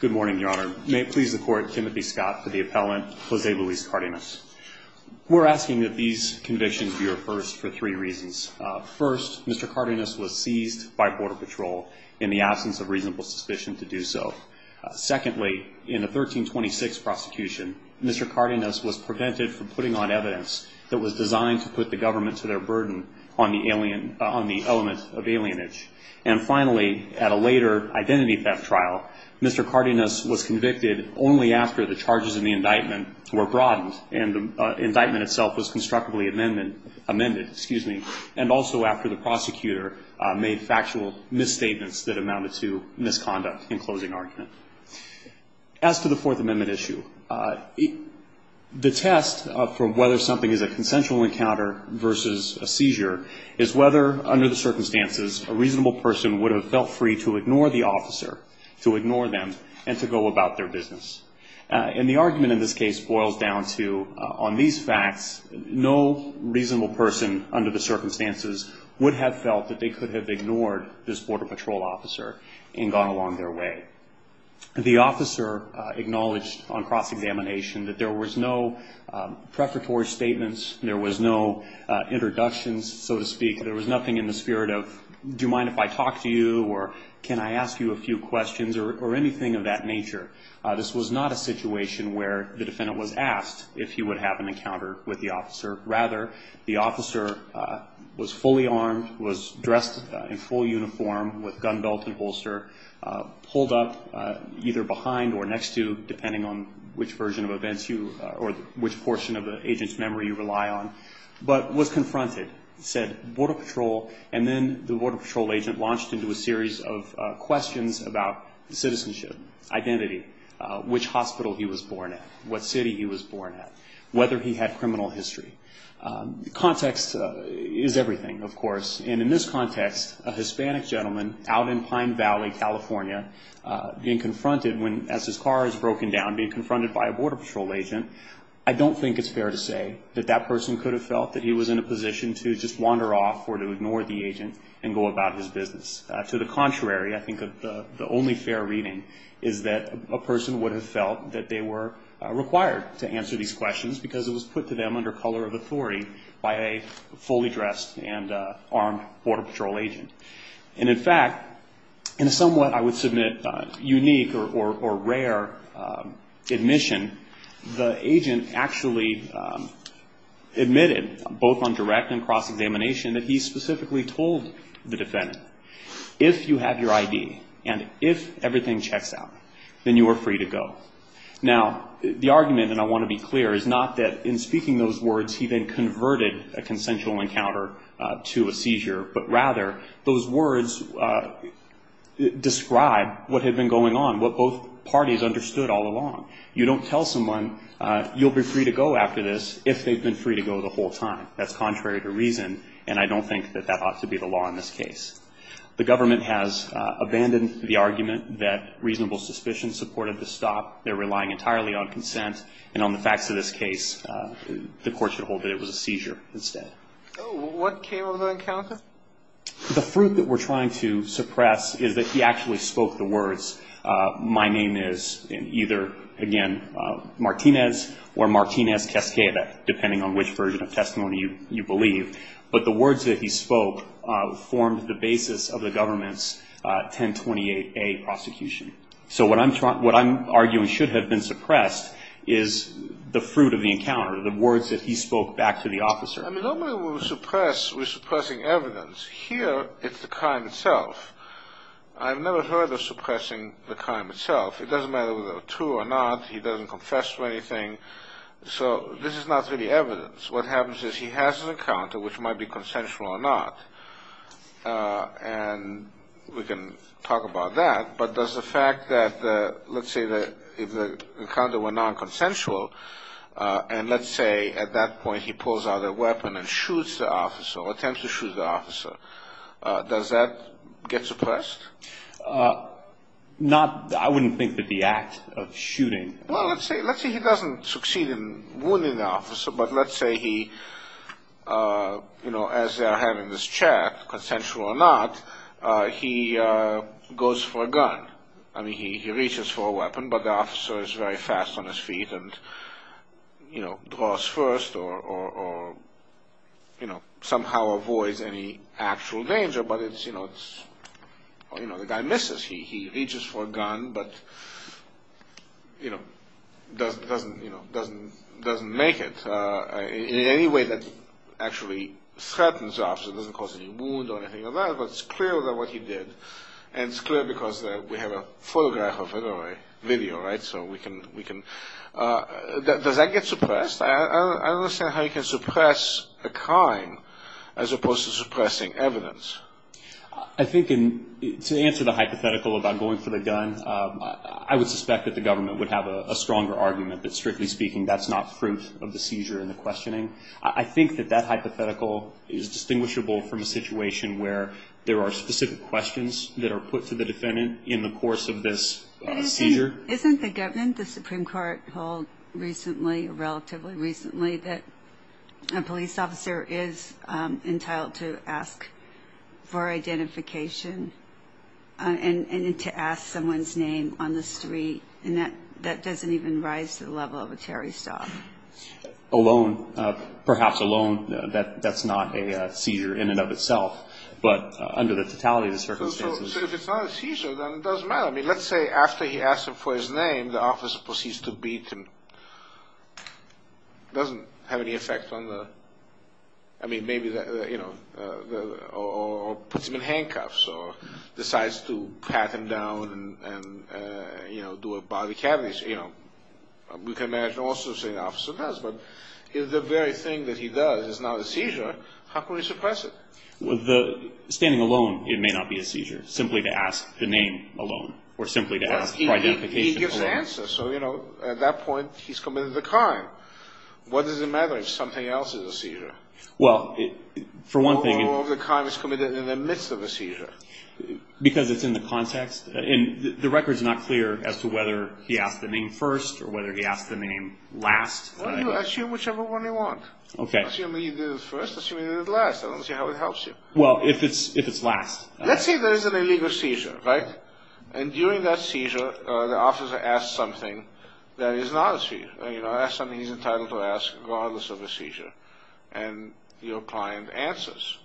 Good morning, Your Honor. May it please the Court, Timothy Scott for the appellant, Jose Luis Cardenas. We're asking that these convictions be reversed for three reasons. First, Mr. Cardenas was seized by Border Patrol in the absence of reasonable suspicion to do so. Secondly, in the 1326 prosecution, Mr. Cardenas was prevented from putting on evidence that was designed to put the government to their burden on the element of alienage. And finally, at a later identity theft trial, Mr. Cardenas was convicted only after the charges in the indictment were broadened and the indictment itself was constructively amended, and also after the prosecutor made factual misstatements that amounted to misconduct in closing argument. As to the Fourth Amendment issue, the test for whether something is a consensual encounter versus a seizure is whether, under the circumstances, a reasonable person would have felt free to ignore the officer, to ignore them, and to go about their business. And the argument in this case boils down to, on these facts, no reasonable person under the circumstances would have felt that they could have ignored this Border Patrol officer and gone along their way. The officer acknowledged on cross-examination that there was no preparatory statements, there was no introductions, so to speak. There was nothing in the spirit of, do you mind if I talk to you, or can I ask you a few questions, or anything of that nature. This was not a situation where the defendant was asked if he would have an encounter with the officer. Rather, the officer was fully armed, was dressed in full uniform with gun belt and holster, pulled up either behind or next to, depending on which version of events you, or which portion of the agent's memory you rely on, but was confronted. He said, Border Patrol, and then the Border Patrol agent launched into a series of questions about citizenship, identity, which hospital he was born at, what city he was born at, whether he had criminal history. Context is everything, of course. In this context, a Hispanic gentleman out in Pine Valley, California, being confronted as his car is broken down, being confronted by a Border Patrol agent, I don't think it's fair to say that that person could have felt that he was in a position to just wander off or to ignore the agent and go about his business. To the contrary, I think the only fair reading is that a person would have felt that they were required to answer these questions because it was put to them under color of authority by a fully dressed and armed Border Patrol agent. And in fact, in a somewhat, I would submit, unique or rare admission, the agent actually admitted, both on direct and cross-examination, that he specifically told the defendant, if you have your ID and if everything checks out, then you are free to go. Now, the argument, and I want to be clear, is not that in speaking those words, he then converted a consensual encounter to a seizure, but rather those words describe what had been going on, what both parties understood all along. You don't tell someone you'll be free to go after this if they've been free to go the whole time. That's contrary to reason, and I don't think that that ought to be the law in this case. The government has abandoned the argument that reasonable suspicion supported the stop. They're relying entirely on consent. And on the facts of this case, the court should hold that it was a seizure instead. What came of the encounter? The fruit that we're trying to suppress is that he actually spoke the words, my name is either, again, Martinez or Martinez Cascada, depending on which version of testimony you believe. But the words that he spoke formed the basis of the government's 1028A prosecution. So what I'm arguing should have been suppressed is the fruit of the encounter, the words that he spoke back to the officer. I mean, normally when we suppress, we're suppressing evidence. Here, it's the crime itself. I've never heard of suppressing the crime itself. It doesn't matter whether they're true or not. He doesn't confess to anything. So this is not really evidence. What happens is he has an encounter, which might be consensual or not. And we can talk about that. But does the fact that, let's say, if the encounter were nonconsensual, and let's say at that point he pulls out a weapon and shoots the officer, attempts to shoot the officer, does that get suppressed? Not, I wouldn't think that the act of shooting. Well, let's say he doesn't succeed in wounding the officer, but let's say he, you know, as they're having this chat, consensual or not, he goes for a gun. I mean, he reaches for a weapon, but the officer is very fast on his feet and, you know, draws first or, you know, somehow avoids any actual danger, but it's, you know, the guy misses. He reaches for a gun, but, you know, doesn't make it. In any way that actually threatens the officer, doesn't cause any wound or anything like that, but it's clear that what he did, and it's clear because we have a photograph of it or a video, right? So we can – does that get suppressed? I don't understand how you can suppress a crime as opposed to suppressing evidence. I think in – to answer the hypothetical about going for the gun, I would suspect that the government would have a stronger argument that, strictly speaking, that's not fruit of the seizure and the questioning. I think that that hypothetical is distinguishable from a situation where there are specific questions that are put to the defendant in the course of this seizure. Isn't the government, the Supreme Court, told recently, relatively recently, that a police officer is entitled to ask for identification and to ask someone's name on the street? And that doesn't even rise to the level of a Terry Starr. Alone, perhaps alone, that's not a seizure in and of itself, but under the totality of the circumstances. So if it's not a seizure, then it doesn't matter. I mean, let's say after he asks for his name, the officer proceeds to beat him. It doesn't have any effect on the – I mean, maybe, you know, or puts him in handcuffs or decides to pat him down and, you know, do a body cavity. You know, we can imagine also saying the officer does, but if the very thing that he does is not a seizure, how can we suppress it? Standing alone, it may not be a seizure, simply to ask the name alone or simply to ask for identification alone. He gives the answer. So, you know, at that point he's committed the crime. What does it matter if something else is a seizure? Well, for one thing – Or if the crime is committed in the midst of a seizure. Because it's in the context. And the record's not clear as to whether he asked the name first or whether he asked the name last. Well, you assume whichever one you want. Okay. Assume he did it first. Assume he did it last. I don't see how it helps you. Well, if it's last. Let's say there is an illegal seizure, right? And during that seizure, the officer asks something that is not a seizure. You know, ask something he's entitled to ask regardless of the seizure. And your client answers.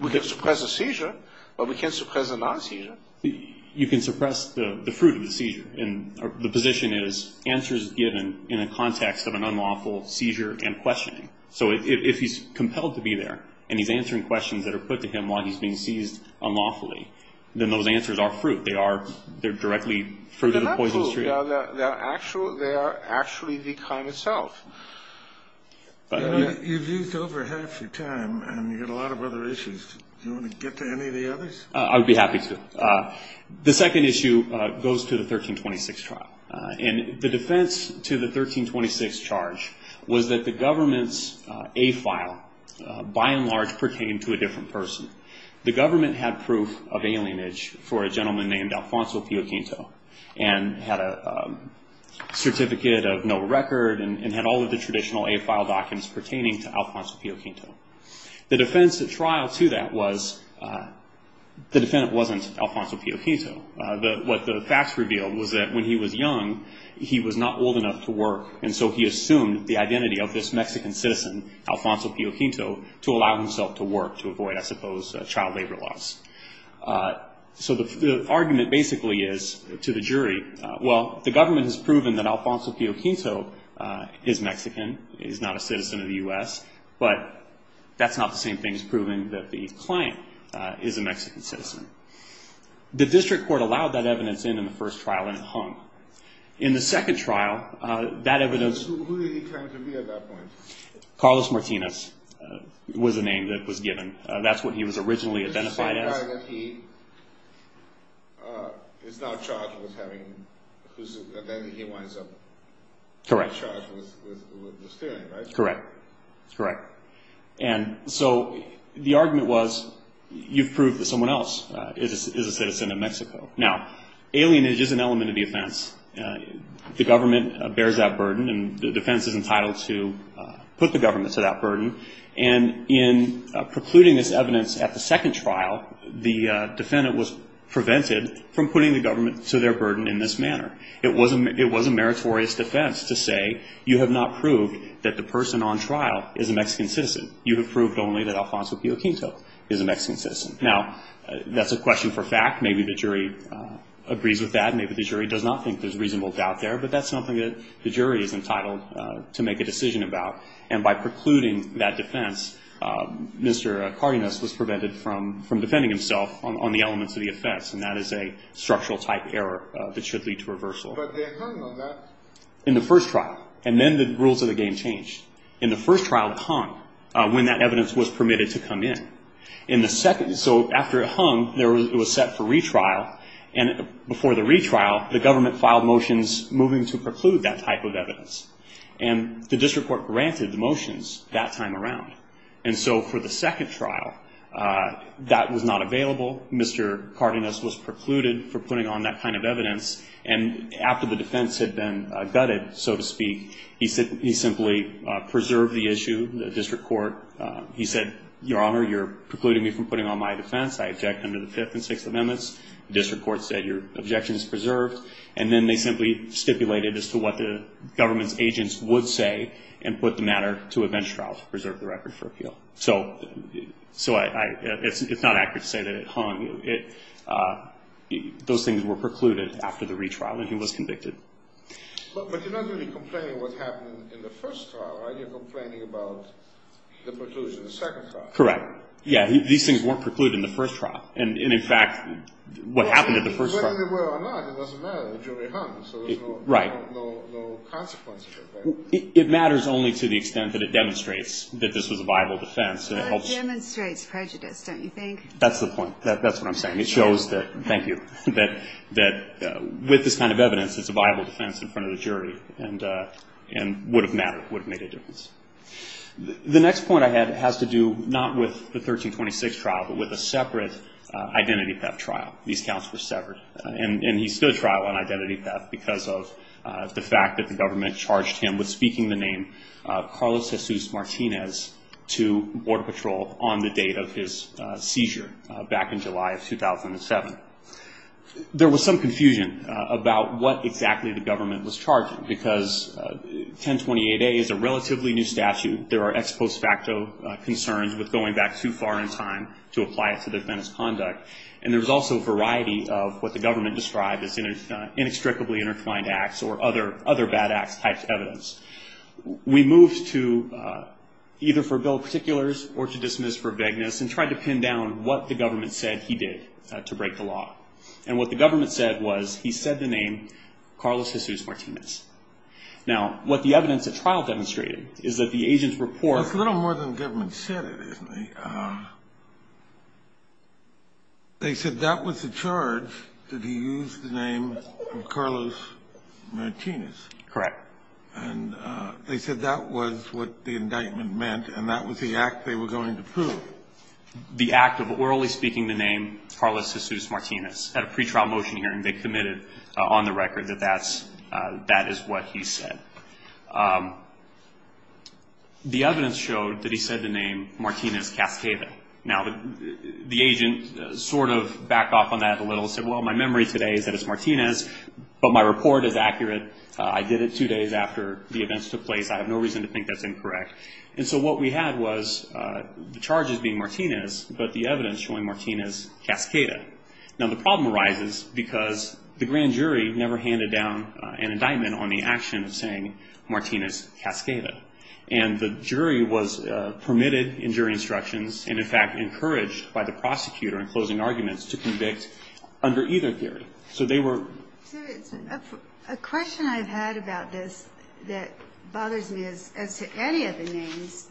We can suppress a seizure, but we can't suppress a non-seizure. You can suppress the fruit of the seizure. The position is answers are given in the context of an unlawful seizure and questioning. So if he's compelled to be there and he's answering questions that are put to him while he's being seized unlawfully, then those answers are fruit. They're directly fruit of the poisonous tree. They're not fruit. They are actually the crime itself. You've used over half your time, and you've got a lot of other issues. Do you want to get to any of the others? I would be happy to. The second issue goes to the 1326 trial. And the defense to the 1326 charge was that the government's A file, by and large, pertained to a different person. The government had proof of alienage for a gentleman named Alfonso Pio Quinto and had a certificate of no record and had all of the traditional A file documents pertaining to Alfonso Pio Quinto. The defense at trial to that was the defendant wasn't Alfonso Pio Quinto. What the facts revealed was that when he was young, he was not old enough to work, and so he assumed the identity of this Mexican citizen, Alfonso Pio Quinto, to allow himself to work to avoid, I suppose, child labor laws. So the argument basically is to the jury, well, the government has proven that Alfonso Pio Quinto is Mexican, he's not a citizen of the U.S., but that's not the same thing as proving that the client is a Mexican citizen. The district court allowed that evidence in in the first trial and it hung. In the second trial, that evidence... Who did he claim to be at that point? Carlos Martinez was the name that was given. That's what he was originally identified as. The same guy that he is now charged with having, then he winds up... Correct. Correct. Correct. And so the argument was you've proved that someone else is a citizen of Mexico. Now, alienage is an element of the offense. The government bears that burden and the defense is entitled to put the government to that burden, and in precluding this evidence at the second trial, the defendant was prevented from putting the government to their burden in this manner. It was a meritorious defense to say you have not proved that the person on trial is a Mexican citizen. You have proved only that Alfonso Pio Quinto is a Mexican citizen. Now, that's a question for fact. Maybe the jury agrees with that. Maybe the jury does not think there's reasonable doubt there, but that's something that the jury is entitled to make a decision about, and by precluding that defense, and that is a structural type error that should lead to reversal. But they hung on that. In the first trial, and then the rules of the game changed. In the first trial, it hung when that evidence was permitted to come in. So after it hung, it was set for retrial, and before the retrial, the government filed motions moving to preclude that type of evidence, and the district court granted the motions that time around. And so for the second trial, that was not available. Mr. Cardenas was precluded for putting on that kind of evidence, and after the defense had been gutted, so to speak, he simply preserved the issue, the district court. He said, Your Honor, you're precluding me from putting on my defense. I object under the Fifth and Sixth Amendments. The district court said your objection is preserved, and then they simply stipulated as to what the government's agents would say and put the matter to a bench trial to preserve the record for appeal. So it's not accurate to say that it hung. Those things were precluded after the retrial, and he was convicted. But you're not really complaining what happened in the first trial, right? You're complaining about the preclusion in the second trial. Correct. Yeah, these things weren't precluded in the first trial. And, in fact, what happened in the first trial— Whether they were or not, it doesn't matter. The jury hung, so there's no consequence of it, right? It matters only to the extent that it demonstrates that this was a viable defense. Well, it demonstrates prejudice, don't you think? That's the point. That's what I'm saying. It shows that, thank you, that with this kind of evidence, it's a viable defense in front of the jury and would have mattered, would have made a difference. The next point I have has to do not with the 1326 trial, but with a separate identity theft trial. These counts were severed, and he stood trial on identity theft because of the fact that the government charged him with speaking the name Carlos Jesus Martinez to Border Patrol on the date of his seizure back in July of 2007. There was some confusion about what exactly the government was charging, because 1028A is a relatively new statute. There are ex post facto concerns with going back too far in time to apply it to the offense conduct. And there's also a variety of what the government described as inextricably intertwined acts or other bad acts type evidence. We moved to either for bill of particulars or to dismiss for vagueness and tried to pin down what the government said he did to break the law. And what the government said was he said the name Carlos Jesus Martinez. Now, what the evidence at trial demonstrated is that the agent's report- They said that was the charge that he used the name Carlos Martinez. Correct. And they said that was what the indictment meant, and that was the act they were going to prove. The act of orally speaking the name Carlos Jesus Martinez. At a pretrial motion hearing, they committed on the record that that is what he said. The evidence showed that he said the name Martinez Cascada. Now, the agent sort of backed off on that a little and said, well, my memory today is that it's Martinez, but my report is accurate. I did it two days after the events took place. I have no reason to think that's incorrect. And so what we had was the charges being Martinez, but the evidence showing Martinez Cascada. Now, the problem arises because the grand jury never handed down an indictment on the action of saying Martinez Cascada. And the jury was permitted in jury instructions and, in fact, encouraged by the prosecutor in closing arguments to convict under either theory. So they were- A question I've had about this that bothers me is, as to any of the names,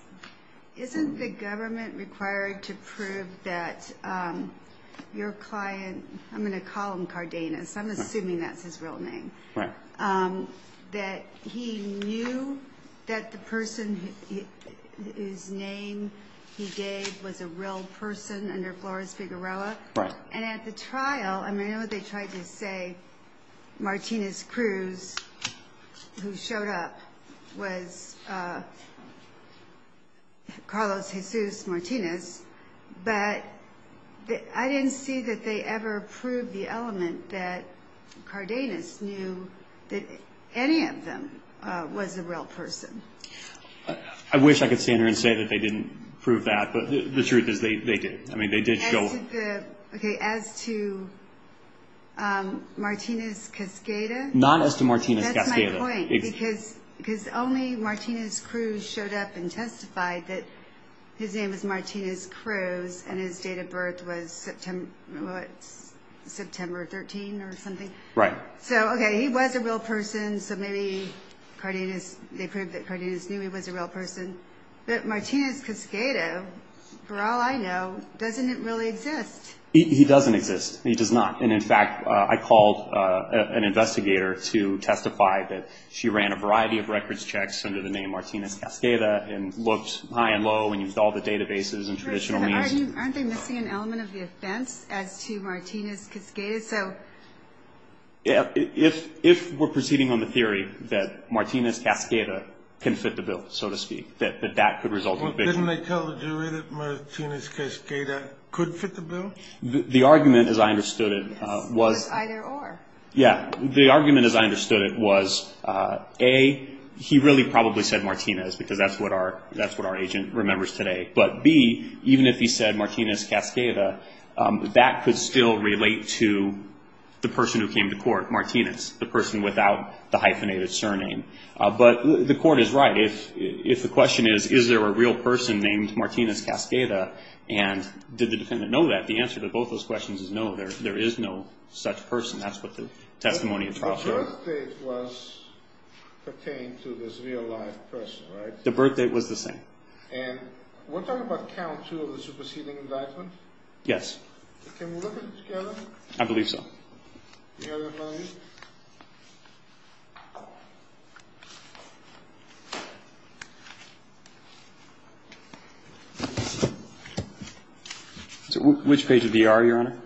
isn't the government required to prove that your client-I'm going to call him Cardenas. I'm assuming that's his real name. Right. That he knew that the person whose name he gave was a real person under Flores Figueroa. Right. And at the trial, I mean, I know they tried to say Martinez Cruz, who showed up, was Carlos Jesus Martinez, but I didn't see that they ever proved the element that Cardenas knew that any of them was a real person. I wish I could stand here and say that they didn't prove that, but the truth is they did. I mean, they did show- Okay, as to Martinez Cascada- Not as to Martinez Cascada. Because only Martinez Cruz showed up and testified that his name was Martinez Cruz and his date of birth was September 13 or something. Right. So, okay, he was a real person, so maybe they proved that Cardenas knew he was a real person. But Martinez Cascada, for all I know, doesn't really exist. He doesn't exist. He does not. And, in fact, I called an investigator to testify that she ran a variety of records checks under the name Martinez Cascada and looked high and low and used all the databases and traditional means to- Aren't they missing an element of the offense as to Martinez Cascada? If we're proceeding on the theory that Martinez Cascada can fit the bill, so to speak, that that could result in conviction- Well, didn't they tell the jury that Martinez Cascada could fit the bill? The argument, as I understood it, was- Was either or. Yeah. The argument, as I understood it, was, A, he really probably said Martinez because that's what our agent remembers today. But, B, even if he said Martinez Cascada, that could still relate to the person who came to court, Martinez, the person without the hyphenated surname. But the court is right. If the question is, is there a real person named Martinez Cascada and did the defendant know that, the answer to both those questions is, no, there is no such person. That's what the testimony of the prosecutor- The birthdate was pertained to this real-life person, right? The birthdate was the same. And we're talking about count two of the superseding indictment? Yes. Can we look at it together? I believe so. Do you have the money? I do. Which page of the AR, Your Honor?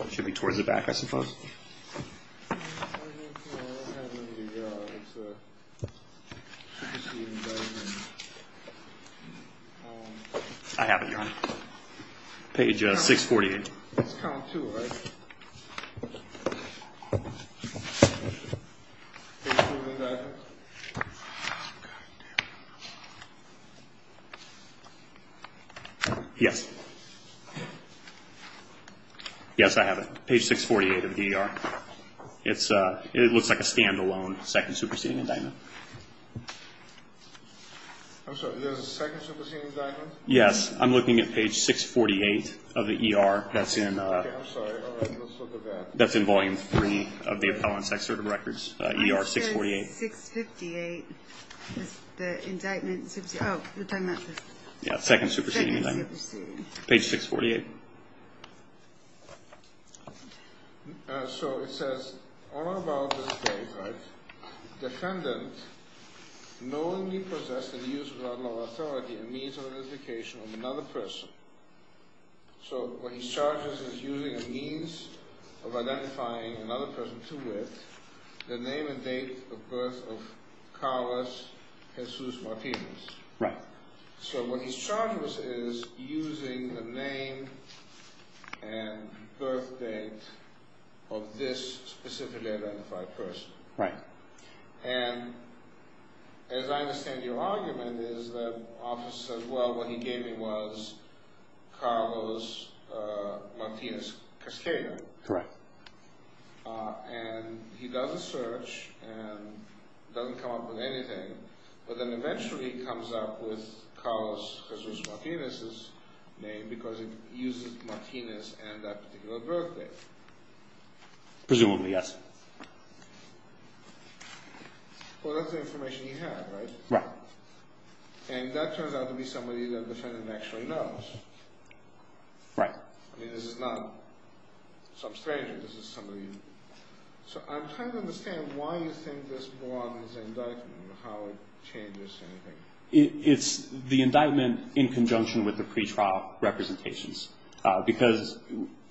It should be towards the back, I suppose. I have it, Your Honor. Page 648. That's count two, right? Page two of the indictment? Yes. Yes, I have it. Page 648 of the ER. It looks like a standalone second superseding indictment. I'm sorry, there's a second superseding indictment? Yes, I'm looking at page 648 of the ER. Okay, I'm sorry. All right, let's look at that. That's in volume three of the appellant's excerpt of records, ER 648. It says 658 is the indictment superseding. Oh, you're talking about the- Yeah, second superseding indictment. Second superseding. Page 648. So it says, all about this case, right? The defendant knowingly possessed and used without law authority a means of identification of another person. So what he charges is using a means of identifying another person to with the name and date of birth of Carlos Jesus Martinez. Right. So what he charges is using the name and birth date of this specifically identified person. Right. And as I understand your argument is that office says, well, what he gave me was Carlos Martinez Cascada. Correct. And he does a search and doesn't come up with anything, but then eventually comes up with Carlos Jesus Martinez's name because he uses Martinez and that particular birth date. Presumably, yes. Well, that's the information you have, right? Right. And that turns out to be somebody that the defendant actually knows. Right. I mean, this is not some stranger. This is somebody- So I'm trying to understand why you think this belongs in the indictment and how it changes anything. It's the indictment in conjunction with the pretrial representations because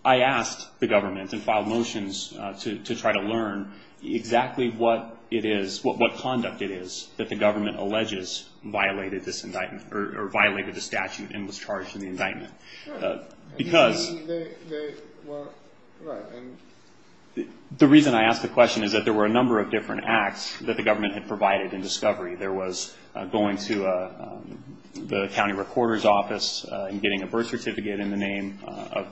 I asked the government and filed motions to try to learn exactly what it is, what conduct it is that the government alleges violated this indictment or violated the statute and was charged in the indictment. Right. Because- Well, right. The reason I ask the question is that there were a number of different acts that the government had provided in discovery. There was going to the county recorder's office and getting a birth certificate in the name of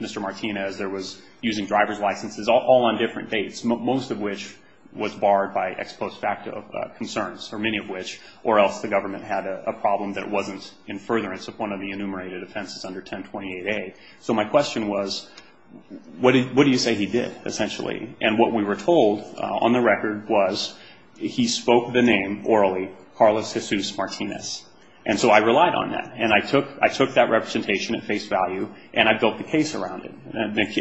Mr. Martinez. There was using driver's licenses, all on different dates, most of which was barred by ex post facto concerns or many of which, or else the government had a problem that it wasn't in furtherance of one of the enumerated offenses under 1028A. So my question was, what do you say he did, essentially? And what we were told on the record was he spoke the name orally, Carlos Jesus Martinez. And so I relied on that. And I took that representation at face value, and I built the case around it.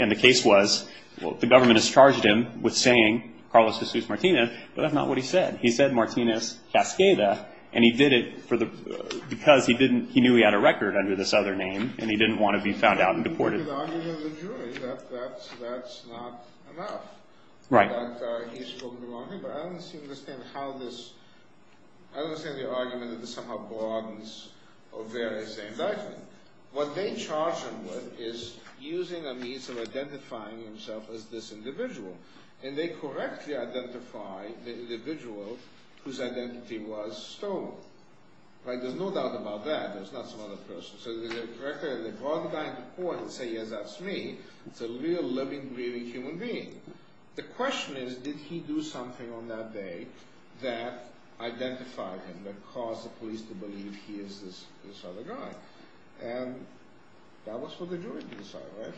And the case was the government has charged him with saying Carlos Jesus Martinez, but that's not what he said. He said Martinez Cascada, and he did it because he knew he had a record under this other name, I agree with the argument of the jury that that's not enough. That he's spoken the wrong name. But I don't understand how this, I don't understand the argument that this somehow broadens or varies the indictment. What they charge him with is using a means of identifying himself as this individual. And they correctly identify the individual whose identity was stolen. There's no doubt about that. There's not some other person. So the record, they brought the guy into court and said, yes, that's me. It's a real living, breathing human being. The question is, did he do something on that day that identified him, that caused the police to believe he is this other guy? And that was for the jury to decide, right?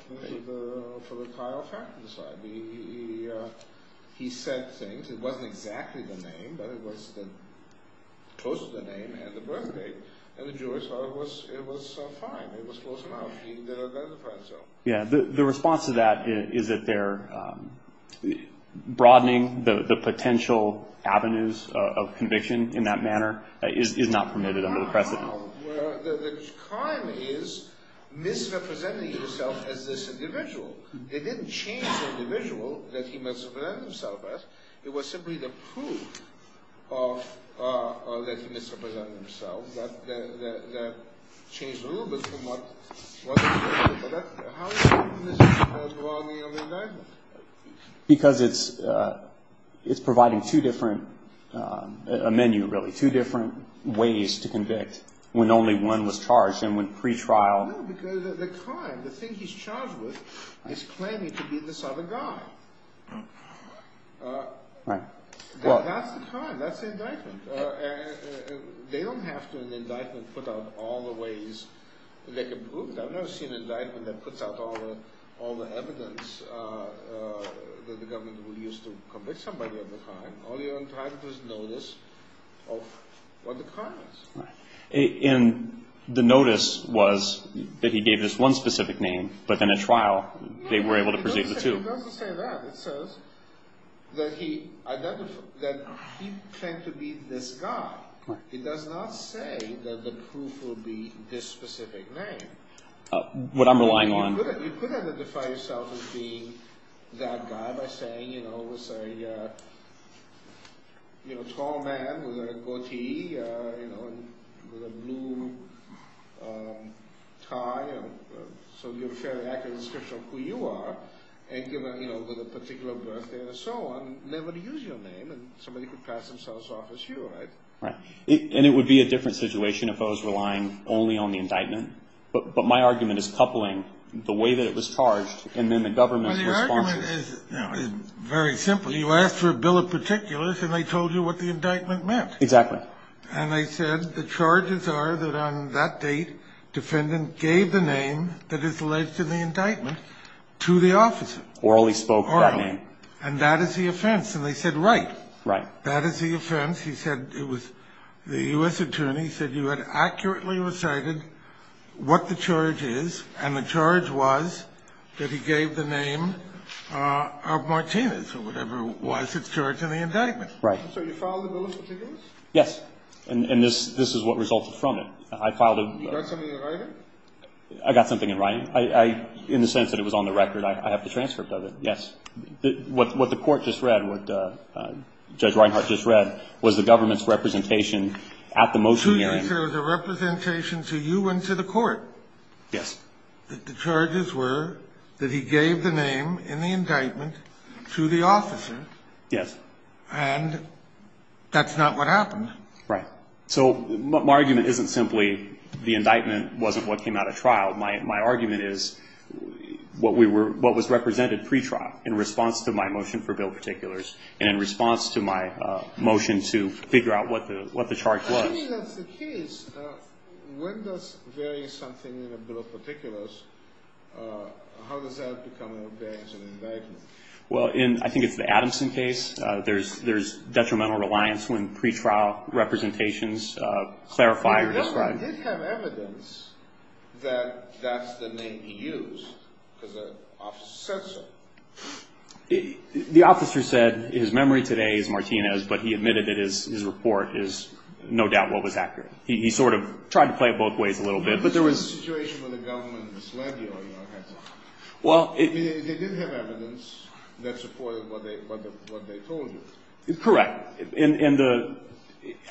For the trial to decide. He said things. It wasn't exactly the name, but it was close to the name and the birthdate. And the jury thought it was fine. It was close enough. He identified himself. Yeah, the response to that is that they're broadening the potential avenues of conviction in that manner is not permitted under the precedent. Well, the crime is misrepresenting himself as this individual. They didn't change the individual that he misrepresented himself as. It was simply the proof that he misrepresented himself that changed a little bit from what was expected. But how is that misrepresented throughout the entire indictment? Because it's providing two different, a menu really, two different ways to convict when only one was charged. And when pretrial. No, because the crime, the thing he's charged with is claiming to be this other guy. Right. Well, that's the crime. That's the indictment. They don't have to, in the indictment, put out all the ways they can prove it. I've never seen an indictment that puts out all the evidence that the government would use to convict somebody of the crime. All you're entitled to is notice of what the crime is. Right. And the notice was that he gave this one specific name, but in a trial they were able to pursue the two. It doesn't say that. It says that he claimed to be this guy. It does not say that the proof will be this specific name. What I'm relying on. You could identify yourself as being that guy by saying, you know, it was a tall man with a goatee, you know, with a blue tie. So you have a fairly accurate description of who you are. And, you know, with a particular birthday and so on. They would use your name and somebody could pass themselves off as you, right? Right. And it would be a different situation if I was relying only on the indictment. But my argument is coupling the way that it was charged and then the government's responses. Well, the argument is very simple. You asked for a bill of particulars and they told you what the indictment meant. Exactly. And they said the charges are that on that date defendant gave the name that is alleged in the indictment to the officer. Orally spoke that name. Orally. And that is the offense. And they said, right. Right. That is the offense. He said it was the U.S. attorney said you had accurately recited what the charge is. And the charge was that he gave the name of Martinez or whatever was its charge in the indictment. Right. So you filed the bill of particulars? Yes. And this is what resulted from it. I filed a. You got something in writing? I got something in writing. I, in the sense that it was on the record, I have the transcript of it. Yes. What the court just read, what Judge Reinhart just read was the government's representation at the motion hearing. So you said it was a representation to you and to the court. Yes. That the charges were that he gave the name in the indictment to the officer. Yes. And that's not what happened. Right. So my argument isn't simply the indictment wasn't what came out of trial. My argument is what was represented pretrial in response to my motion for bill of particulars. And in response to my motion to figure out what the charge was. Assuming that's the case, when does varying something in a bill of particulars, how does that become an objection indictment? Well, I think it's the Adamson case. There's detrimental reliance when pretrial representations clarify or describe. I did have evidence that that's the name he used because the officer said so. The officer said his memory today is Martinez, but he admitted that his report is no doubt what was accurate. He sort of tried to play it both ways a little bit. But there was a situation where the government misled you. Well, they did have evidence that supported what they told you. Correct.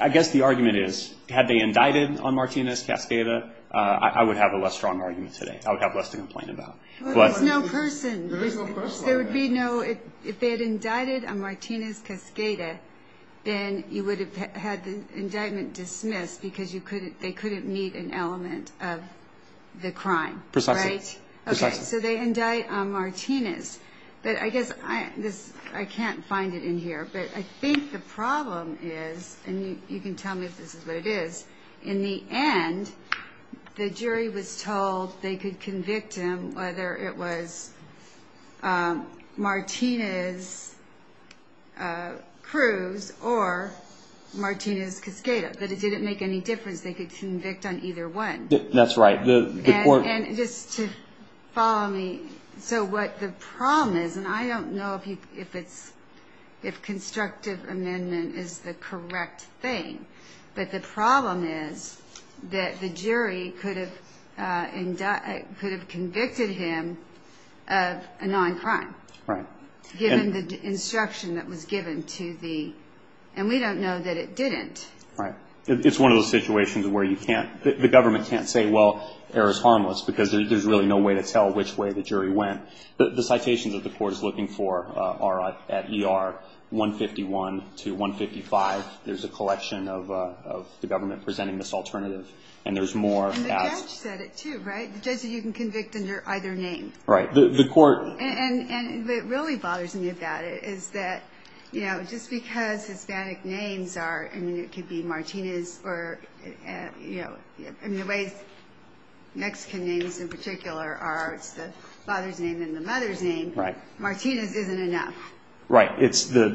I guess the argument is, had they indicted on Martinez-Cascada, I would have a less strong argument today. I would have less to complain about. But there's no person. There's no person. There would be no. If they had indicted on Martinez-Cascada, then you would have had the indictment dismissed because they couldn't meet an element of the crime. Precisely. So they indict on Martinez. But I guess I can't find it in here, but I think the problem is, and you can tell me if this is what it is, in the end, the jury was told they could convict him whether it was Martinez-Cruz or Martinez-Cascada. But it didn't make any difference. They could convict on either one. That's right. And just to follow me, so what the problem is, and I don't know if constructive amendment is the correct thing, but the problem is that the jury could have convicted him of a non-crime. Right. Given the instruction that was given to the, and we don't know that it didn't. Right. It's one of those situations where you can't, the government can't say, well, error is harmless, because there's really no way to tell which way the jury went. The citations that the court is looking for are at ER 151 to 155. There's a collection of the government presenting this alternative, and there's more. And the judge said it, too, right? The judge said you can convict under either name. Right. The court. And what really bothers me about it is that, you know, just because Hispanic names are, I mean, it could be Martinez or, you know, I mean, the way Mexican names in particular are, it's the father's name and the mother's name. Right. Martinez isn't enough. Right. It's the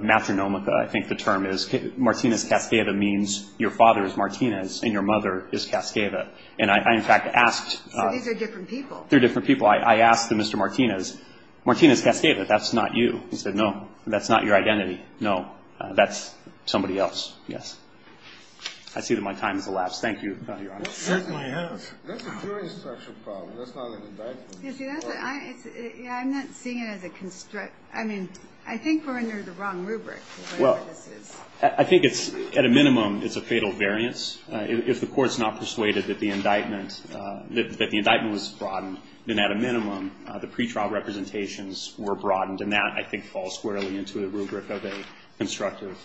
matronomica, I think the term is. Martinez-Cascada means your father is Martinez and your mother is Cascada. And I, in fact, asked. So these are different people. They're different people. I asked Mr. Martinez, Martinez-Cascada, that's not you. He said, no, that's not your identity. No, that's somebody else. Yes. I see that my time has elapsed. Thank you, Your Honor. That's a jury-structured problem. That's not an indictment. Yeah, I'm not seeing it as a construct. I mean, I think we're under the wrong rubric. Well, I think it's, at a minimum, it's a fatal variance. If the court's not persuaded that the indictment was broadened, then at a minimum, the pretrial representations were broadened. And that, I think, falls squarely into the rubric of a constructive,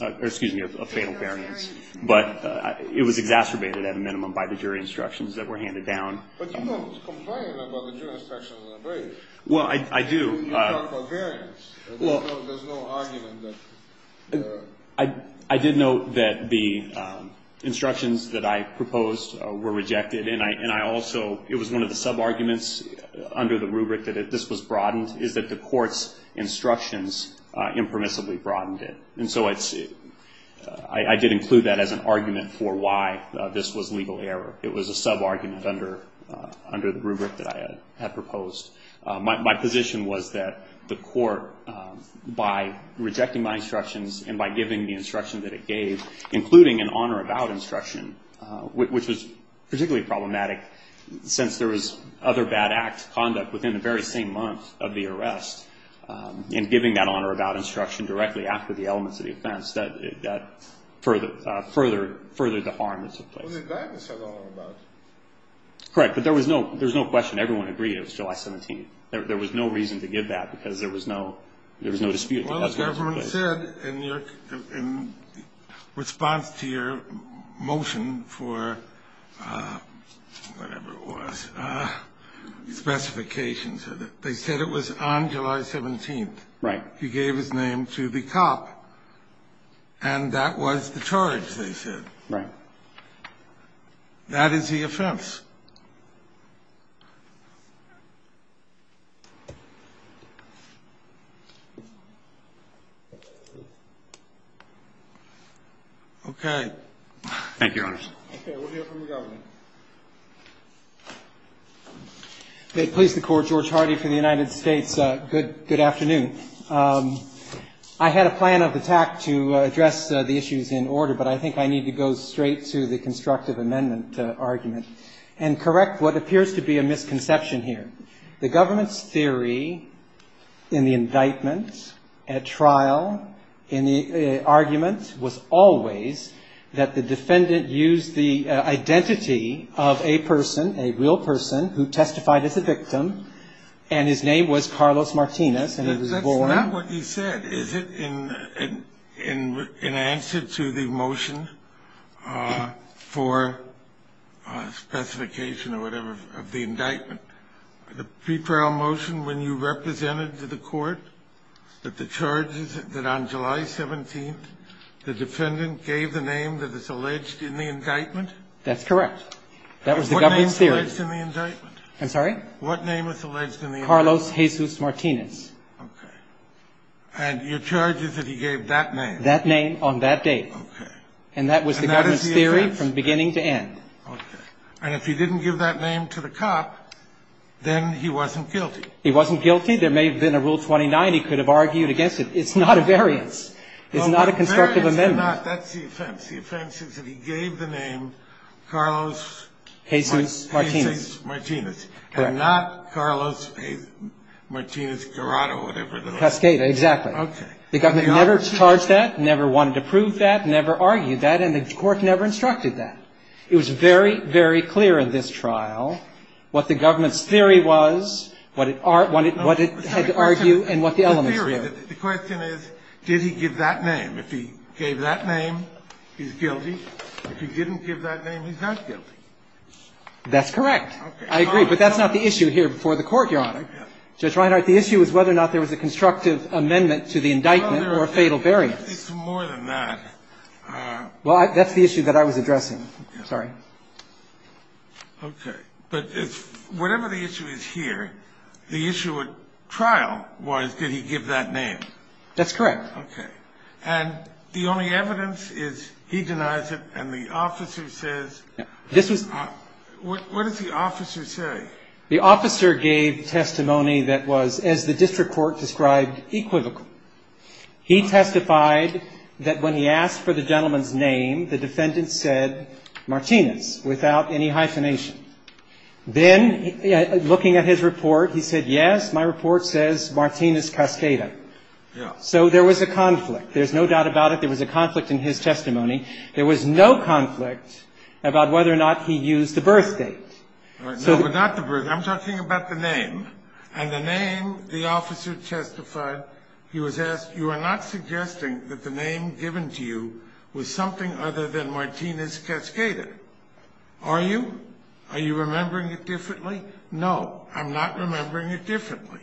or excuse me, of fatal variance. But it was exacerbated, at a minimum, by the jury instructions that were handed down. But you don't complain about the jury instructions and the variance. Well, I do. You talk about variance. There's no argument that. I did note that the instructions that I proposed were rejected. And I also, it was one of the sub-arguments under the rubric that this was broadened, is that the court's instructions impermissibly broadened it. And so I did include that as an argument for why this was legal error. It was a sub-argument under the rubric that I had proposed. My position was that the court, by rejecting my instructions and by giving the instruction that it gave, including an on or about instruction, which was particularly problematic since there was other bad acts, conduct within the very same month of the arrest, and giving that on or about instruction directly after the elements of the offense, that furthered the harm that took place. Was the indictment said on or about? Correct. But there was no question. Everyone agreed it was July 17th. There was no reason to give that because there was no dispute. Well, the government said in response to your motion for whatever it was, specifications, they said it was on July 17th. Right. He gave his name to the cop. And that was the charge, they said. Right. That is the offense. Okay. Thank you, Your Honors. Okay. We'll hear from the government. May it please the Court, George Hardy for the United States. Good afternoon. I had a plan of attack to address the issues in order, but I think I need to go straight to the constructive amendment argument and correct what appears to be a misconception here. The government's theory in the indictment at trial, in the argument was always that the defendant used the identity of a person, a real person, who testified as a victim, and his name was Carlos Martinez. That's not what he said. Is it in answer to the motion for specification or whatever of the indictment? The pre-trial motion when you represented to the Court that the charges that on July 17th, the defendant gave the name that is alleged in the indictment? That's correct. That was the government's theory. What name was alleged in the indictment? I'm sorry? What name was alleged in the indictment? Carlos Jesus Martinez. Okay. And your charge is that he gave that name? That name on that day. And that is the offense? And that was the government's theory from beginning to end. Okay. And if he didn't give that name to the cop, then he wasn't guilty? He wasn't guilty. There may have been a Rule 29. He could have argued against it. It's not a variance. It's not a constructive amendment. Well, the variance is not. That's the offense. The offense is that he gave the name Carlos… Jesus Martinez. Jesus Martinez. Correct. And not Carlos Martinez Corrado or whatever it is. Cascada, exactly. Okay. The government never charged that, never wanted to prove that, never argued that, and the Court never instructed that. It was very, very clear in this trial what the government's theory was, what it had to argue, and what the elements were. The question is, did he give that name? If he gave that name, he's guilty. If he didn't give that name, he's not guilty. That's correct. I agree. But that's not the issue here before the Court, Your Honor. Judge Reinhart, the issue is whether or not there was a constructive amendment to the indictment or a fatal variance. It's more than that. Well, that's the issue that I was addressing. Sorry. Okay. But whatever the issue is here, the issue at trial was did he give that name? That's correct. Okay. And the only evidence is he denies it and the officer says… What did the officer say? The officer gave testimony that was, as the district court described, equivocal. He testified that when he asked for the gentleman's name, the defendant said Martinez without any hyphenation. Then, looking at his report, he said, yes, my report says Martinez Cascada. Yeah. So there was a conflict. There's no doubt about it. There was a conflict in his testimony. There was no conflict about whether or not he used the birth date. No, but not the birth date. I'm talking about the name. And the name, the officer testified, he was asked, you are not suggesting that the name given to you was something other than Martinez Cascada, are you? Are you remembering it differently? No, I'm not remembering it differently.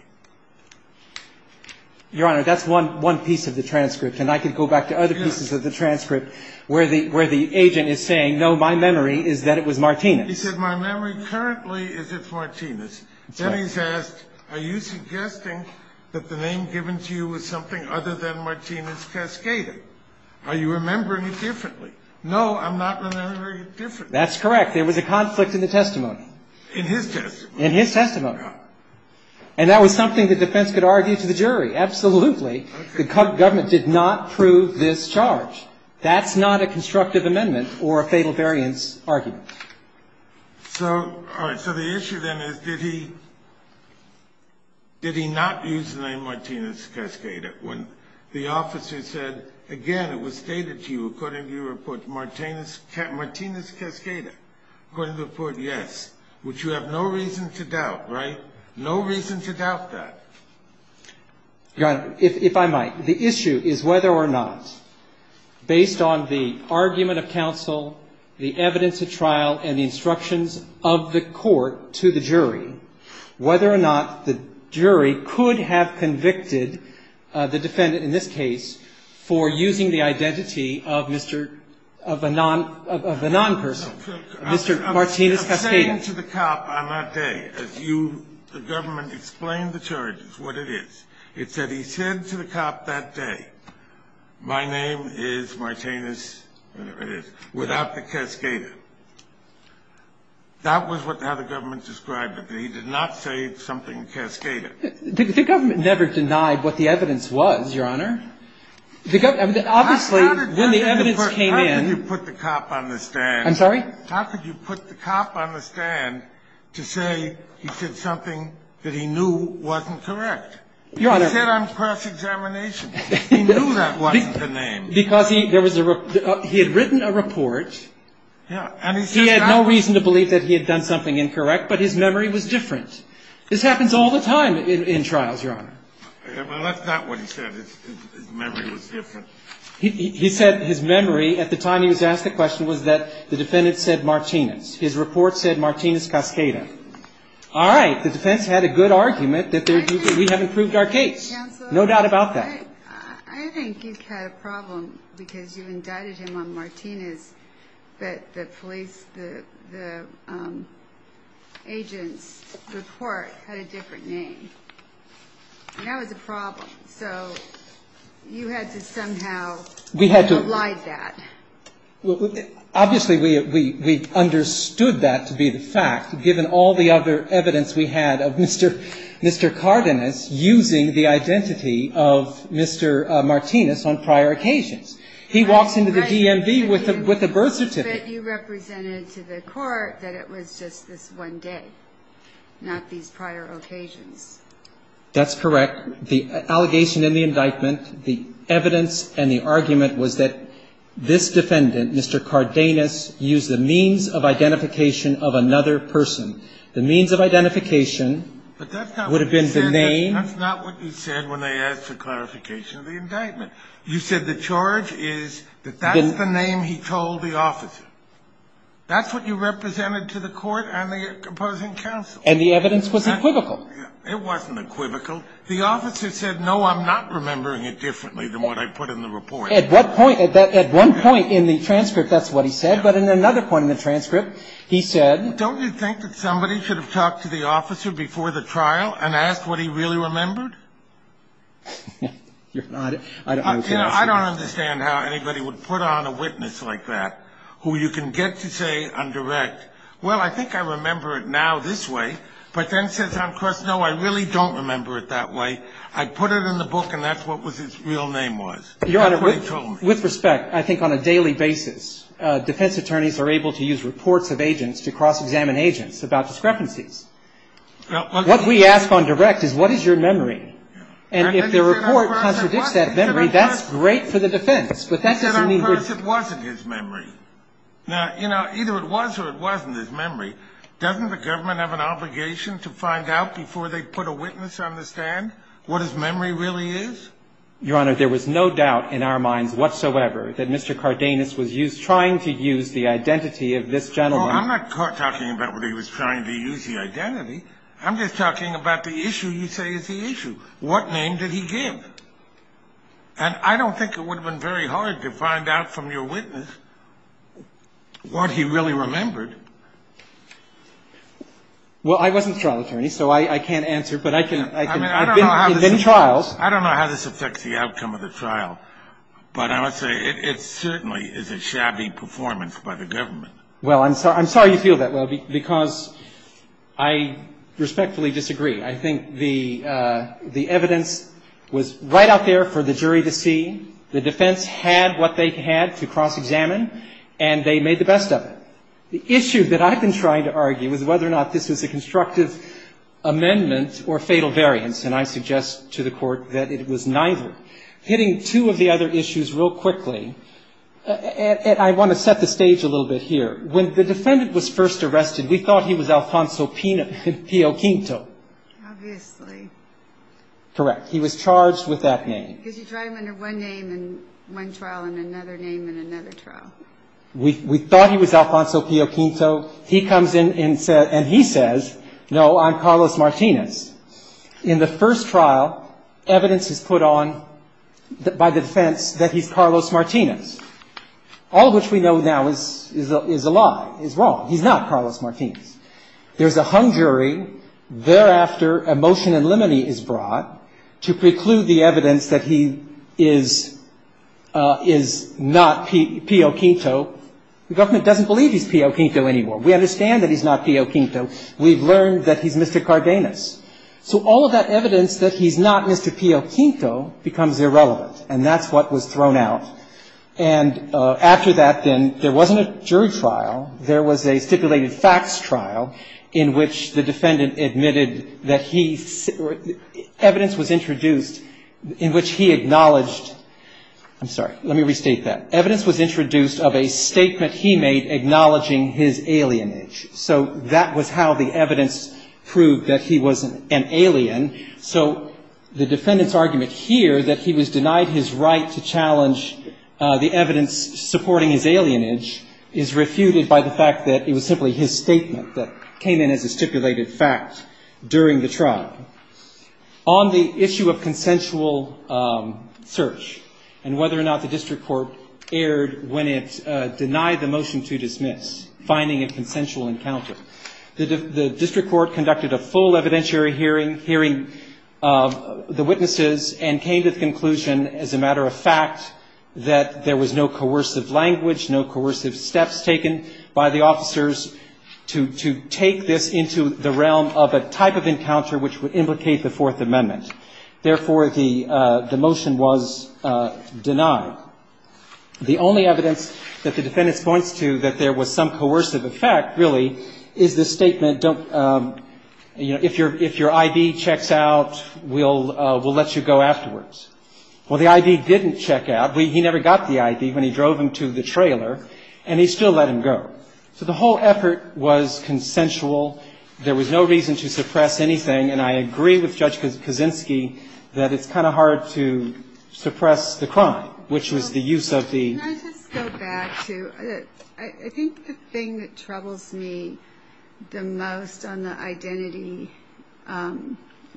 Your Honor, that's one piece of the transcript. And I could go back to other pieces of the transcript. Where the agent is saying, no, my memory is that it was Martinez. He said, my memory currently is it's Martinez. Then he's asked, are you suggesting that the name given to you was something other than Martinez Cascada? Are you remembering it differently? No, I'm not remembering it differently. That's correct. There was a conflict in the testimony. In his testimony. In his testimony. And that was something the defense could argue to the jury. Absolutely. The government did not prove this charge. That's not a constructive amendment or a fatal variance argument. So, all right. So the issue then is, did he not use the name Martinez Cascada when the officer said, again, it was stated to you, according to your report, Martinez Cascada, according to the report, yes. Which you have no reason to doubt, right? No reason to doubt that. Your Honor, if I might, the issue is whether or not. Based on the argument of counsel, the evidence of trial, and the instructions of the court to the jury, whether or not the jury could have convicted the defendant in this case for using the identity of Mr. of a non, of a non-person. Mr. Martinez Cascada. I'm saying to the cop on that day, as you, the government, explained the charges, what it is. It's that he said to the cop that day, my name is Martinez, whatever it is, without the Cascada. That was how the government described it. He did not say something Cascada. The government never denied what the evidence was, Your Honor. Obviously, when the evidence came in. How could you put the cop on the stand? I'm sorry? How could you put the cop on the stand to say he said something that he knew wasn't correct? Your Honor. He said on cross-examination. He knew that wasn't the name. Because he, there was a, he had written a report. Yeah, and he says that. He had no reason to believe that he had done something incorrect, but his memory was different. This happens all the time in trials, Your Honor. Well, that's not what he said. His memory was different. He said his memory, at the time he was asked the question, was that the defendant said Martinez. His report said Martinez Cascada. All right. The defense had a good argument that we have improved our case. No doubt about that. I think you've had a problem because you've indicted him on Martinez, but the police, the agent's report had a different name. And that was a problem. So you had to somehow oblige that. Obviously, we understood that to be the fact, given all the other evidence we had of Mr. Cardenas using the identity of Mr. Martinez on prior occasions. He walks into the DMV with a birth certificate. But you represented to the court that it was just this one day, not these prior occasions. That's correct. The allegation in the indictment, the evidence and the argument was that this defendant, Mr. Cardenas, used the means of identification of another person. The means of identification would have been the name. But that's not what you said when they asked for clarification of the indictment. You said the charge is that that's the name he told the officer. That's what you represented to the court and the opposing counsel. And the evidence was equivocal. It wasn't equivocal. The officer said, no, I'm not remembering it differently than what I put in the report. At one point in the transcript, that's what he said. But in another point in the transcript, he said don't you think that somebody should have talked to the officer before the trial and asked what he really remembered? I don't understand how anybody would put on a witness like that who you can get to say on direct, well, I think I remember it now this way. But then says on cross, no, I really don't remember it that way. I put it in the book, and that's what his real name was. That's what he told me. Your Honor, with respect, I think on a daily basis, defense attorneys are able to use reports of agents to cross-examine agents about discrepancies. What we ask on direct is what is your memory? And if the report contradicts that memory, that's great for the defense. But that doesn't mean we're going to do that. He said on cross it wasn't his memory. Now, you know, either it was or it wasn't his memory. Doesn't the government have an obligation to find out before they put a witness on the stand what his memory really is? Your Honor, there was no doubt in our minds whatsoever that Mr. Cardenas was trying to use the identity of this gentleman. No, I'm not talking about whether he was trying to use the identity. I'm just talking about the issue you say is the issue. What name did he give? And I don't think it would have been very hard to find out from your witness what he really remembered. Well, I wasn't a trial attorney, so I can't answer. But I've been in trials. I don't know how this affects the outcome of the trial, but I must say it certainly is a shabby performance by the government. Well, I'm sorry you feel that way, because I respectfully disagree. I think the evidence was right out there for the jury to see. The defense had what they had to cross-examine, and they made the best of it. The issue that I've been trying to argue is whether or not this was a constructive amendment or fatal variance, and I suggest to the Court that it was neither. Hitting two of the other issues real quickly, and I want to set the stage a little bit here. When the defendant was first arrested, we thought he was Alfonso Pio Quinto. Obviously. Correct. He was charged with that name. Because you tried him under one name in one trial and another name in another trial. We thought he was Alfonso Pio Quinto. He comes in and he says, no, I'm Carlos Martinez. In the first trial, evidence is put on by the defense that he's Carlos Martinez, all of which we know now is a lie, is wrong. He's not Carlos Martinez. There's a hung jury. Thereafter, a motion in limine is brought to preclude the evidence that he is not Pio Quinto. The government doesn't believe he's Pio Quinto anymore. We understand that he's not Pio Quinto. We've learned that he's Mr. Cardenas. So all of that evidence that he's not Mr. Pio Quinto becomes irrelevant, and that's what was thrown out. And after that, then, there wasn't a jury trial. There was a stipulated facts trial in which the defendant admitted that he – evidence was introduced in which he acknowledged – I'm sorry. Let me restate that. Evidence was introduced of a statement he made acknowledging his alienage. So that was how the evidence proved that he was an alien. So the defendant's argument here that he was denied his right to challenge the evidence supporting his alienage is refuted by the fact that it was simply his statement that came in as a stipulated fact during the trial. On the issue of consensual search and whether or not the district court erred when it denied the motion to dismiss, finding a consensual encounter, the district court conducted a full evidentiary hearing, hearing the witnesses, and came to the conclusion as a matter of fact that there was no coercive language, no coercive steps taken by the officers to take this into the realm of a type of encounter which would implicate the Fourth Amendment. Therefore, the motion was denied. The only evidence that the defendant points to that there was some coercive effect, really, is the statement, don't – if your ID checks out, we'll let you go afterwards. Well, the ID didn't check out. He never got the ID when he drove him to the trailer, and he still let him go. So the whole effort was consensual. There was no reason to suppress anything, and I agree with Judge Kaczynski that it's kind of hard to suppress the crime, which was the use of the – Can I just go back to – I think the thing that troubles me the most on the identity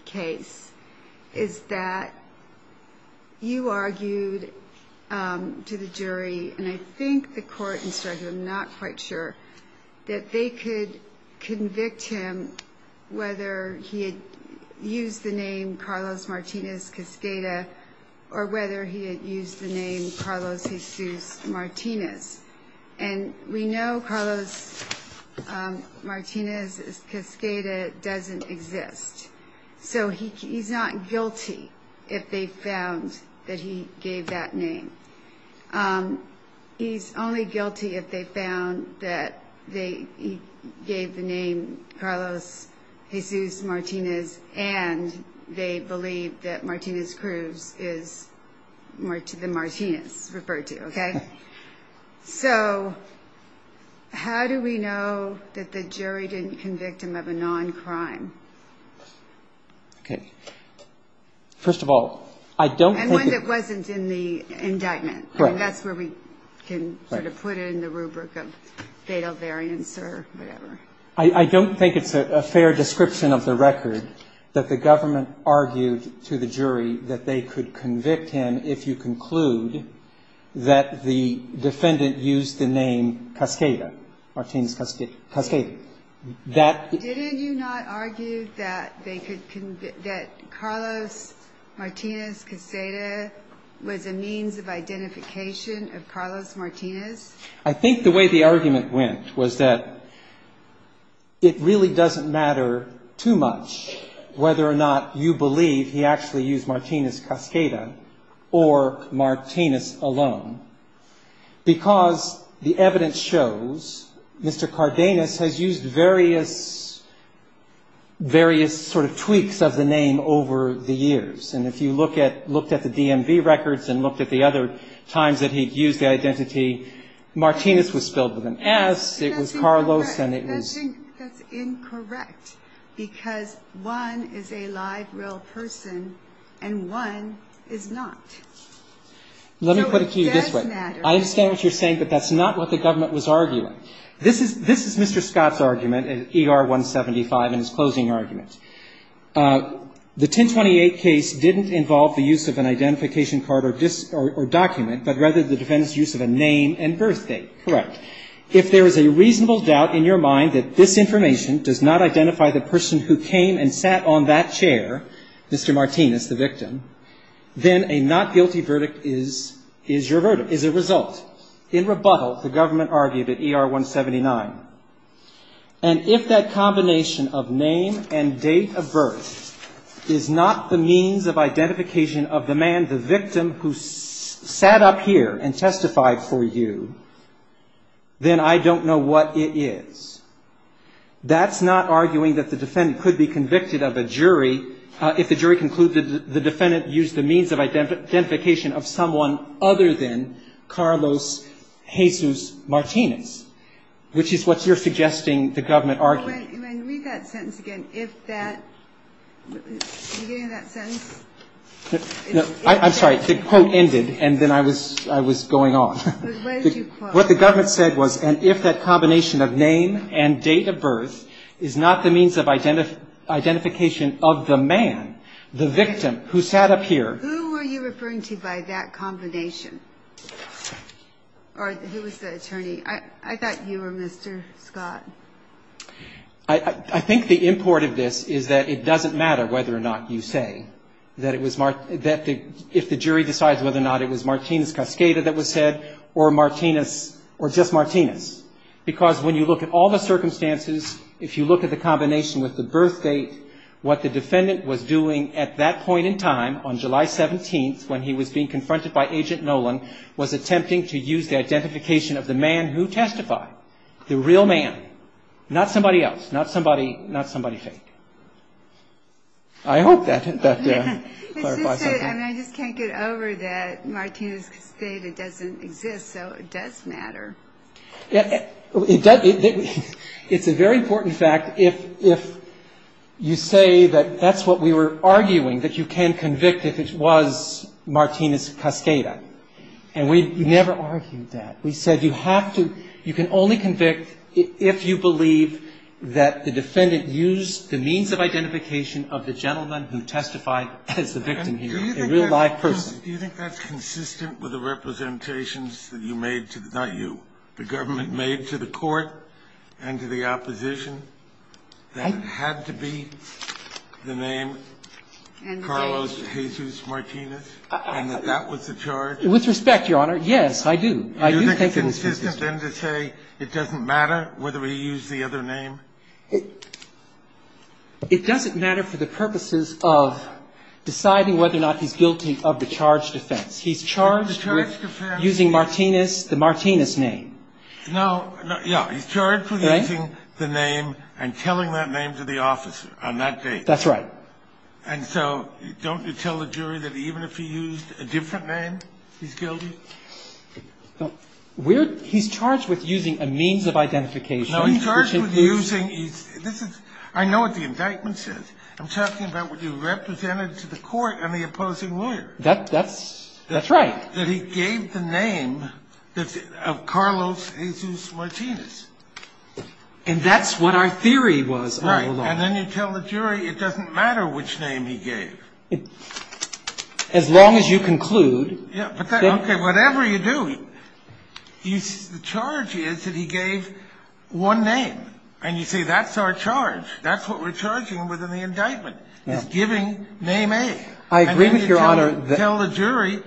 case is that you argued to the jury, and I think the court instructed, I'm not quite sure, that they could convict him whether he had used the name Carlos Martinez Cascada or whether he had used the name Carlos Jesus Martinez. And we know Carlos Martinez Cascada doesn't exist. So he's not guilty if they found that he gave that name. He's only guilty if they found that he gave the name Carlos Jesus Martinez and they believe that Martinez Cruz is the Martinez referred to, okay? So how do we know that the jury didn't convict him of a non-crime? Okay. First of all, I don't think – Indictment. That's where we can sort of put it in the rubric of fatal variance or whatever. I don't think it's a fair description of the record that the government argued to the jury that they could convict him if you conclude that the defendant used the name Cascada, Martinez Cascada. Didn't you not argue that Carlos Martinez Cascada was a means of identification of Carlos Martinez? I think the way the argument went was that it really doesn't matter too much whether or not you believe he actually used Martinez Cascada or Martinez alone because the evidence shows Mr. Cardenas has used various sort of tweaks of the name over the years. And if you looked at the DMV records and looked at the other times that he'd used the identity, Martinez was spelled with an S, it was Carlos, and it was – I think that's incorrect because one is a live real person and one is not. So it does matter. Let me put it to you this way. I understand what you're saying, but that's not what the government was arguing. This is Mr. Scott's argument in ER 175 in his closing argument. The 1028 case didn't involve the use of an identification card or document, but rather the defendant's use of a name and birth date. Correct. If there is a reasonable doubt in your mind that this information does not identify the person who came and sat on that chair, Mr. Martinez, the victim, then a not guilty verdict is your verdict, is a result. In rebuttal, the government argued at ER 179. And if that combination of name and date of birth is not the means of identification of the man, the victim who sat up here and testified for you, then I don't know what it is. That's not arguing that the defendant could be convicted of a jury if the jury concluded the defendant used the means of identification of someone other than Carlos Jesus Martinez, which is what you're suggesting the government argued. Can I read that sentence again? Are you getting that sentence? I'm sorry. The quote ended, and then I was going on. What did you quote? What the government said was, and if that combination of name and date of birth is not the means of identification of the man, the victim who sat up here. Who are you referring to by that combination? Or who was the attorney? I thought you were Mr. Scott. I think the import of this is that it doesn't matter whether or not you say that if the jury decides whether or not it was Martinez-Cascada that was said or just Martinez. Because when you look at all the circumstances, if you look at the combination with the birth date, what the defendant was doing at that point in time, on July 17th, when he was being confronted by Agent Nolan, was attempting to use the identification of the man who testified. The real man. Not somebody else. Not somebody fake. I hope that clarifies something. I just can't get over that Martinez-Cascada doesn't exist, so it does matter. It does. It's a very important fact if you say that that's what we were arguing, that you can convict if it was Martinez-Cascada. And we never argued that. We said you have to, you can only convict if you believe that the defendant used the means of identification of the gentleman who testified as the victim here, a real live person. Do you think that's consistent with the representations that you made, not you, the government made to the court and to the opposition that it had to be the name Carlos Jesus Martinez and that that was the charge? With respect, Your Honor, yes, I do. I do think it's consistent. Do you think it's consistent then to say it doesn't matter whether he used the other name? It doesn't matter for the purposes of deciding whether or not he's guilty of the charged offense. He's charged with using Martinez, the Martinez name. No, yeah, he's charged with using the name and telling that name to the officer on that date. That's right. And so don't you tell the jury that even if he used a different name, he's guilty? He's charged with using a means of identification. No, he's charged with using his – I know what the indictment says. I'm talking about what you represented to the court and the opposing lawyer. That's right. That he gave the name of Carlos Jesus Martinez. And that's what our theory was all along. Right, and then you tell the jury it doesn't matter which name he gave. As long as you conclude. Okay, whatever you do, the charge is that he gave one name. And you say that's our charge. That's what we're charging within the indictment, is giving name A. I agree with Your Honor. And then you tell the jury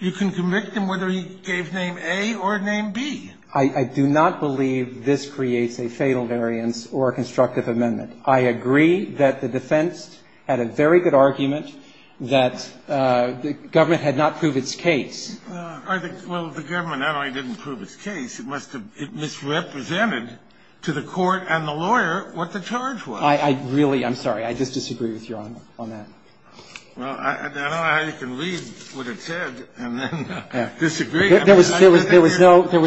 you can convict him whether he gave name A or name B. I do not believe this creates a fatal variance or a constructive amendment. I agree that the defense had a very good argument that the government had not proved its case. Well, the government not only didn't prove its case, it must have – it misrepresented to the court and the lawyer what the charge was. I really – I'm sorry. I just disagree with Your Honor on that. Well, I don't know how you can read what it said and then disagree. There was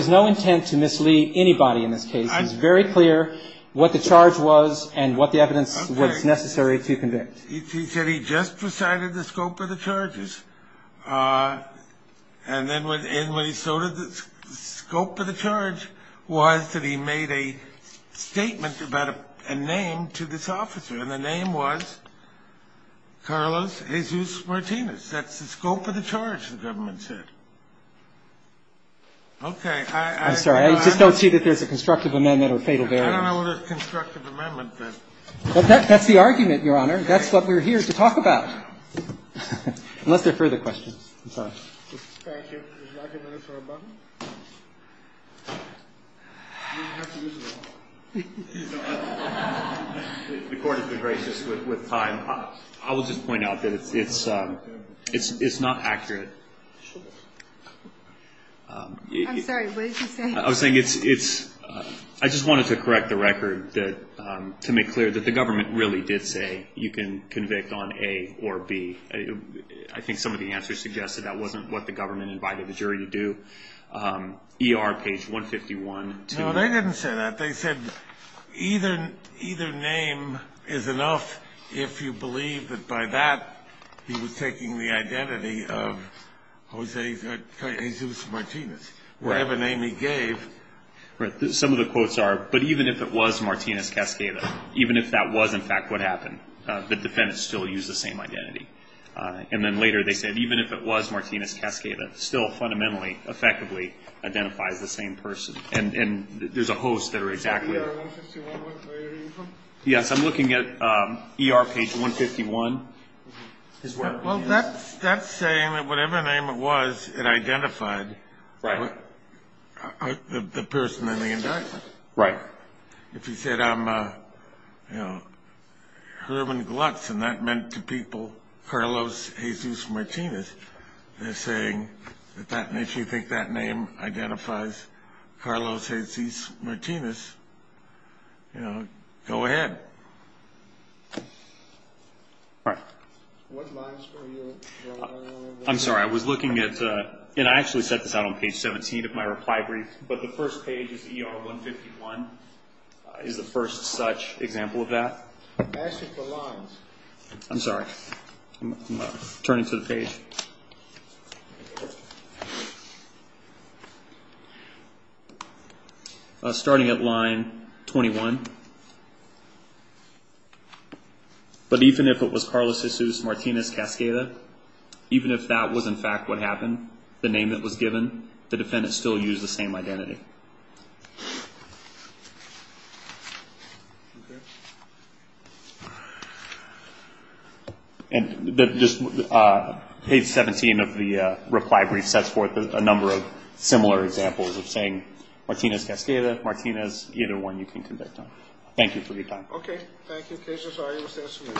no intent to mislead anybody in this case. It's very clear what the charge was and what the evidence was necessary to convict. He said he just presided the scope of the charges. And then when he so did the scope of the charge was that he made a statement about a name to this officer. And the name was Carlos Jesus Martinez. That's the scope of the charge, the government said. Okay, I – I agree that there's a constructive amendment or a fatal variance. I don't know whether it's a constructive amendment, but – That's the argument, Your Honor. That's what we're here to talk about. Unless there are further questions. I'm sorry. Thank you. Is the argument for a button? You have to use the button. The Court has been gracious with time. I will just point out that it's not accurate. I'm sorry. What did you say? I was saying it's – I just wanted to correct the record to make clear that the government really did say you can convict on A or B. I think some of the answers suggested that wasn't what the government invited the jury to do. ER, page 151. No, they didn't say that. They said either name is enough if you believe that by that he was taking the identity of Jose – Jesus Martinez, whatever name he gave. Right. Some of the quotes are, but even if it was Martinez Cascada, even if that was in fact what happened, the defendants still used the same identity. And then later they said even if it was Martinez Cascada, still fundamentally, effectively identifies the same person. And there's a host there exactly. So ER 151, where are you from? Yes, I'm looking at ER page 151. Well, that's saying that whatever name it was, it identified the person in the indictment. Right. If you said I'm, you know, Herman Glutz and that meant to people Carlos Jesus Martinez, they're saying that if you think that name identifies Carlos Jesus Martinez, you know, go ahead. All right. What lines were you – I'm sorry. I was looking at – and I actually set this out on page 17 of my reply brief, but the first page is ER 151 is the first such example of that. I asked you for lines. I'm sorry. I'm turning to the page. Okay. Starting at line 21. But even if it was Carlos Jesus Martinez Cascada, even if that was in fact what happened, the name that was given, the defendants still used the same identity. Okay. And just page 17 of the reply brief sets forth a number of similar examples of saying Martinez Cascada, Martinez, either one you can convict on. Thank you for your time. Okay. Thank you. Case is already in session.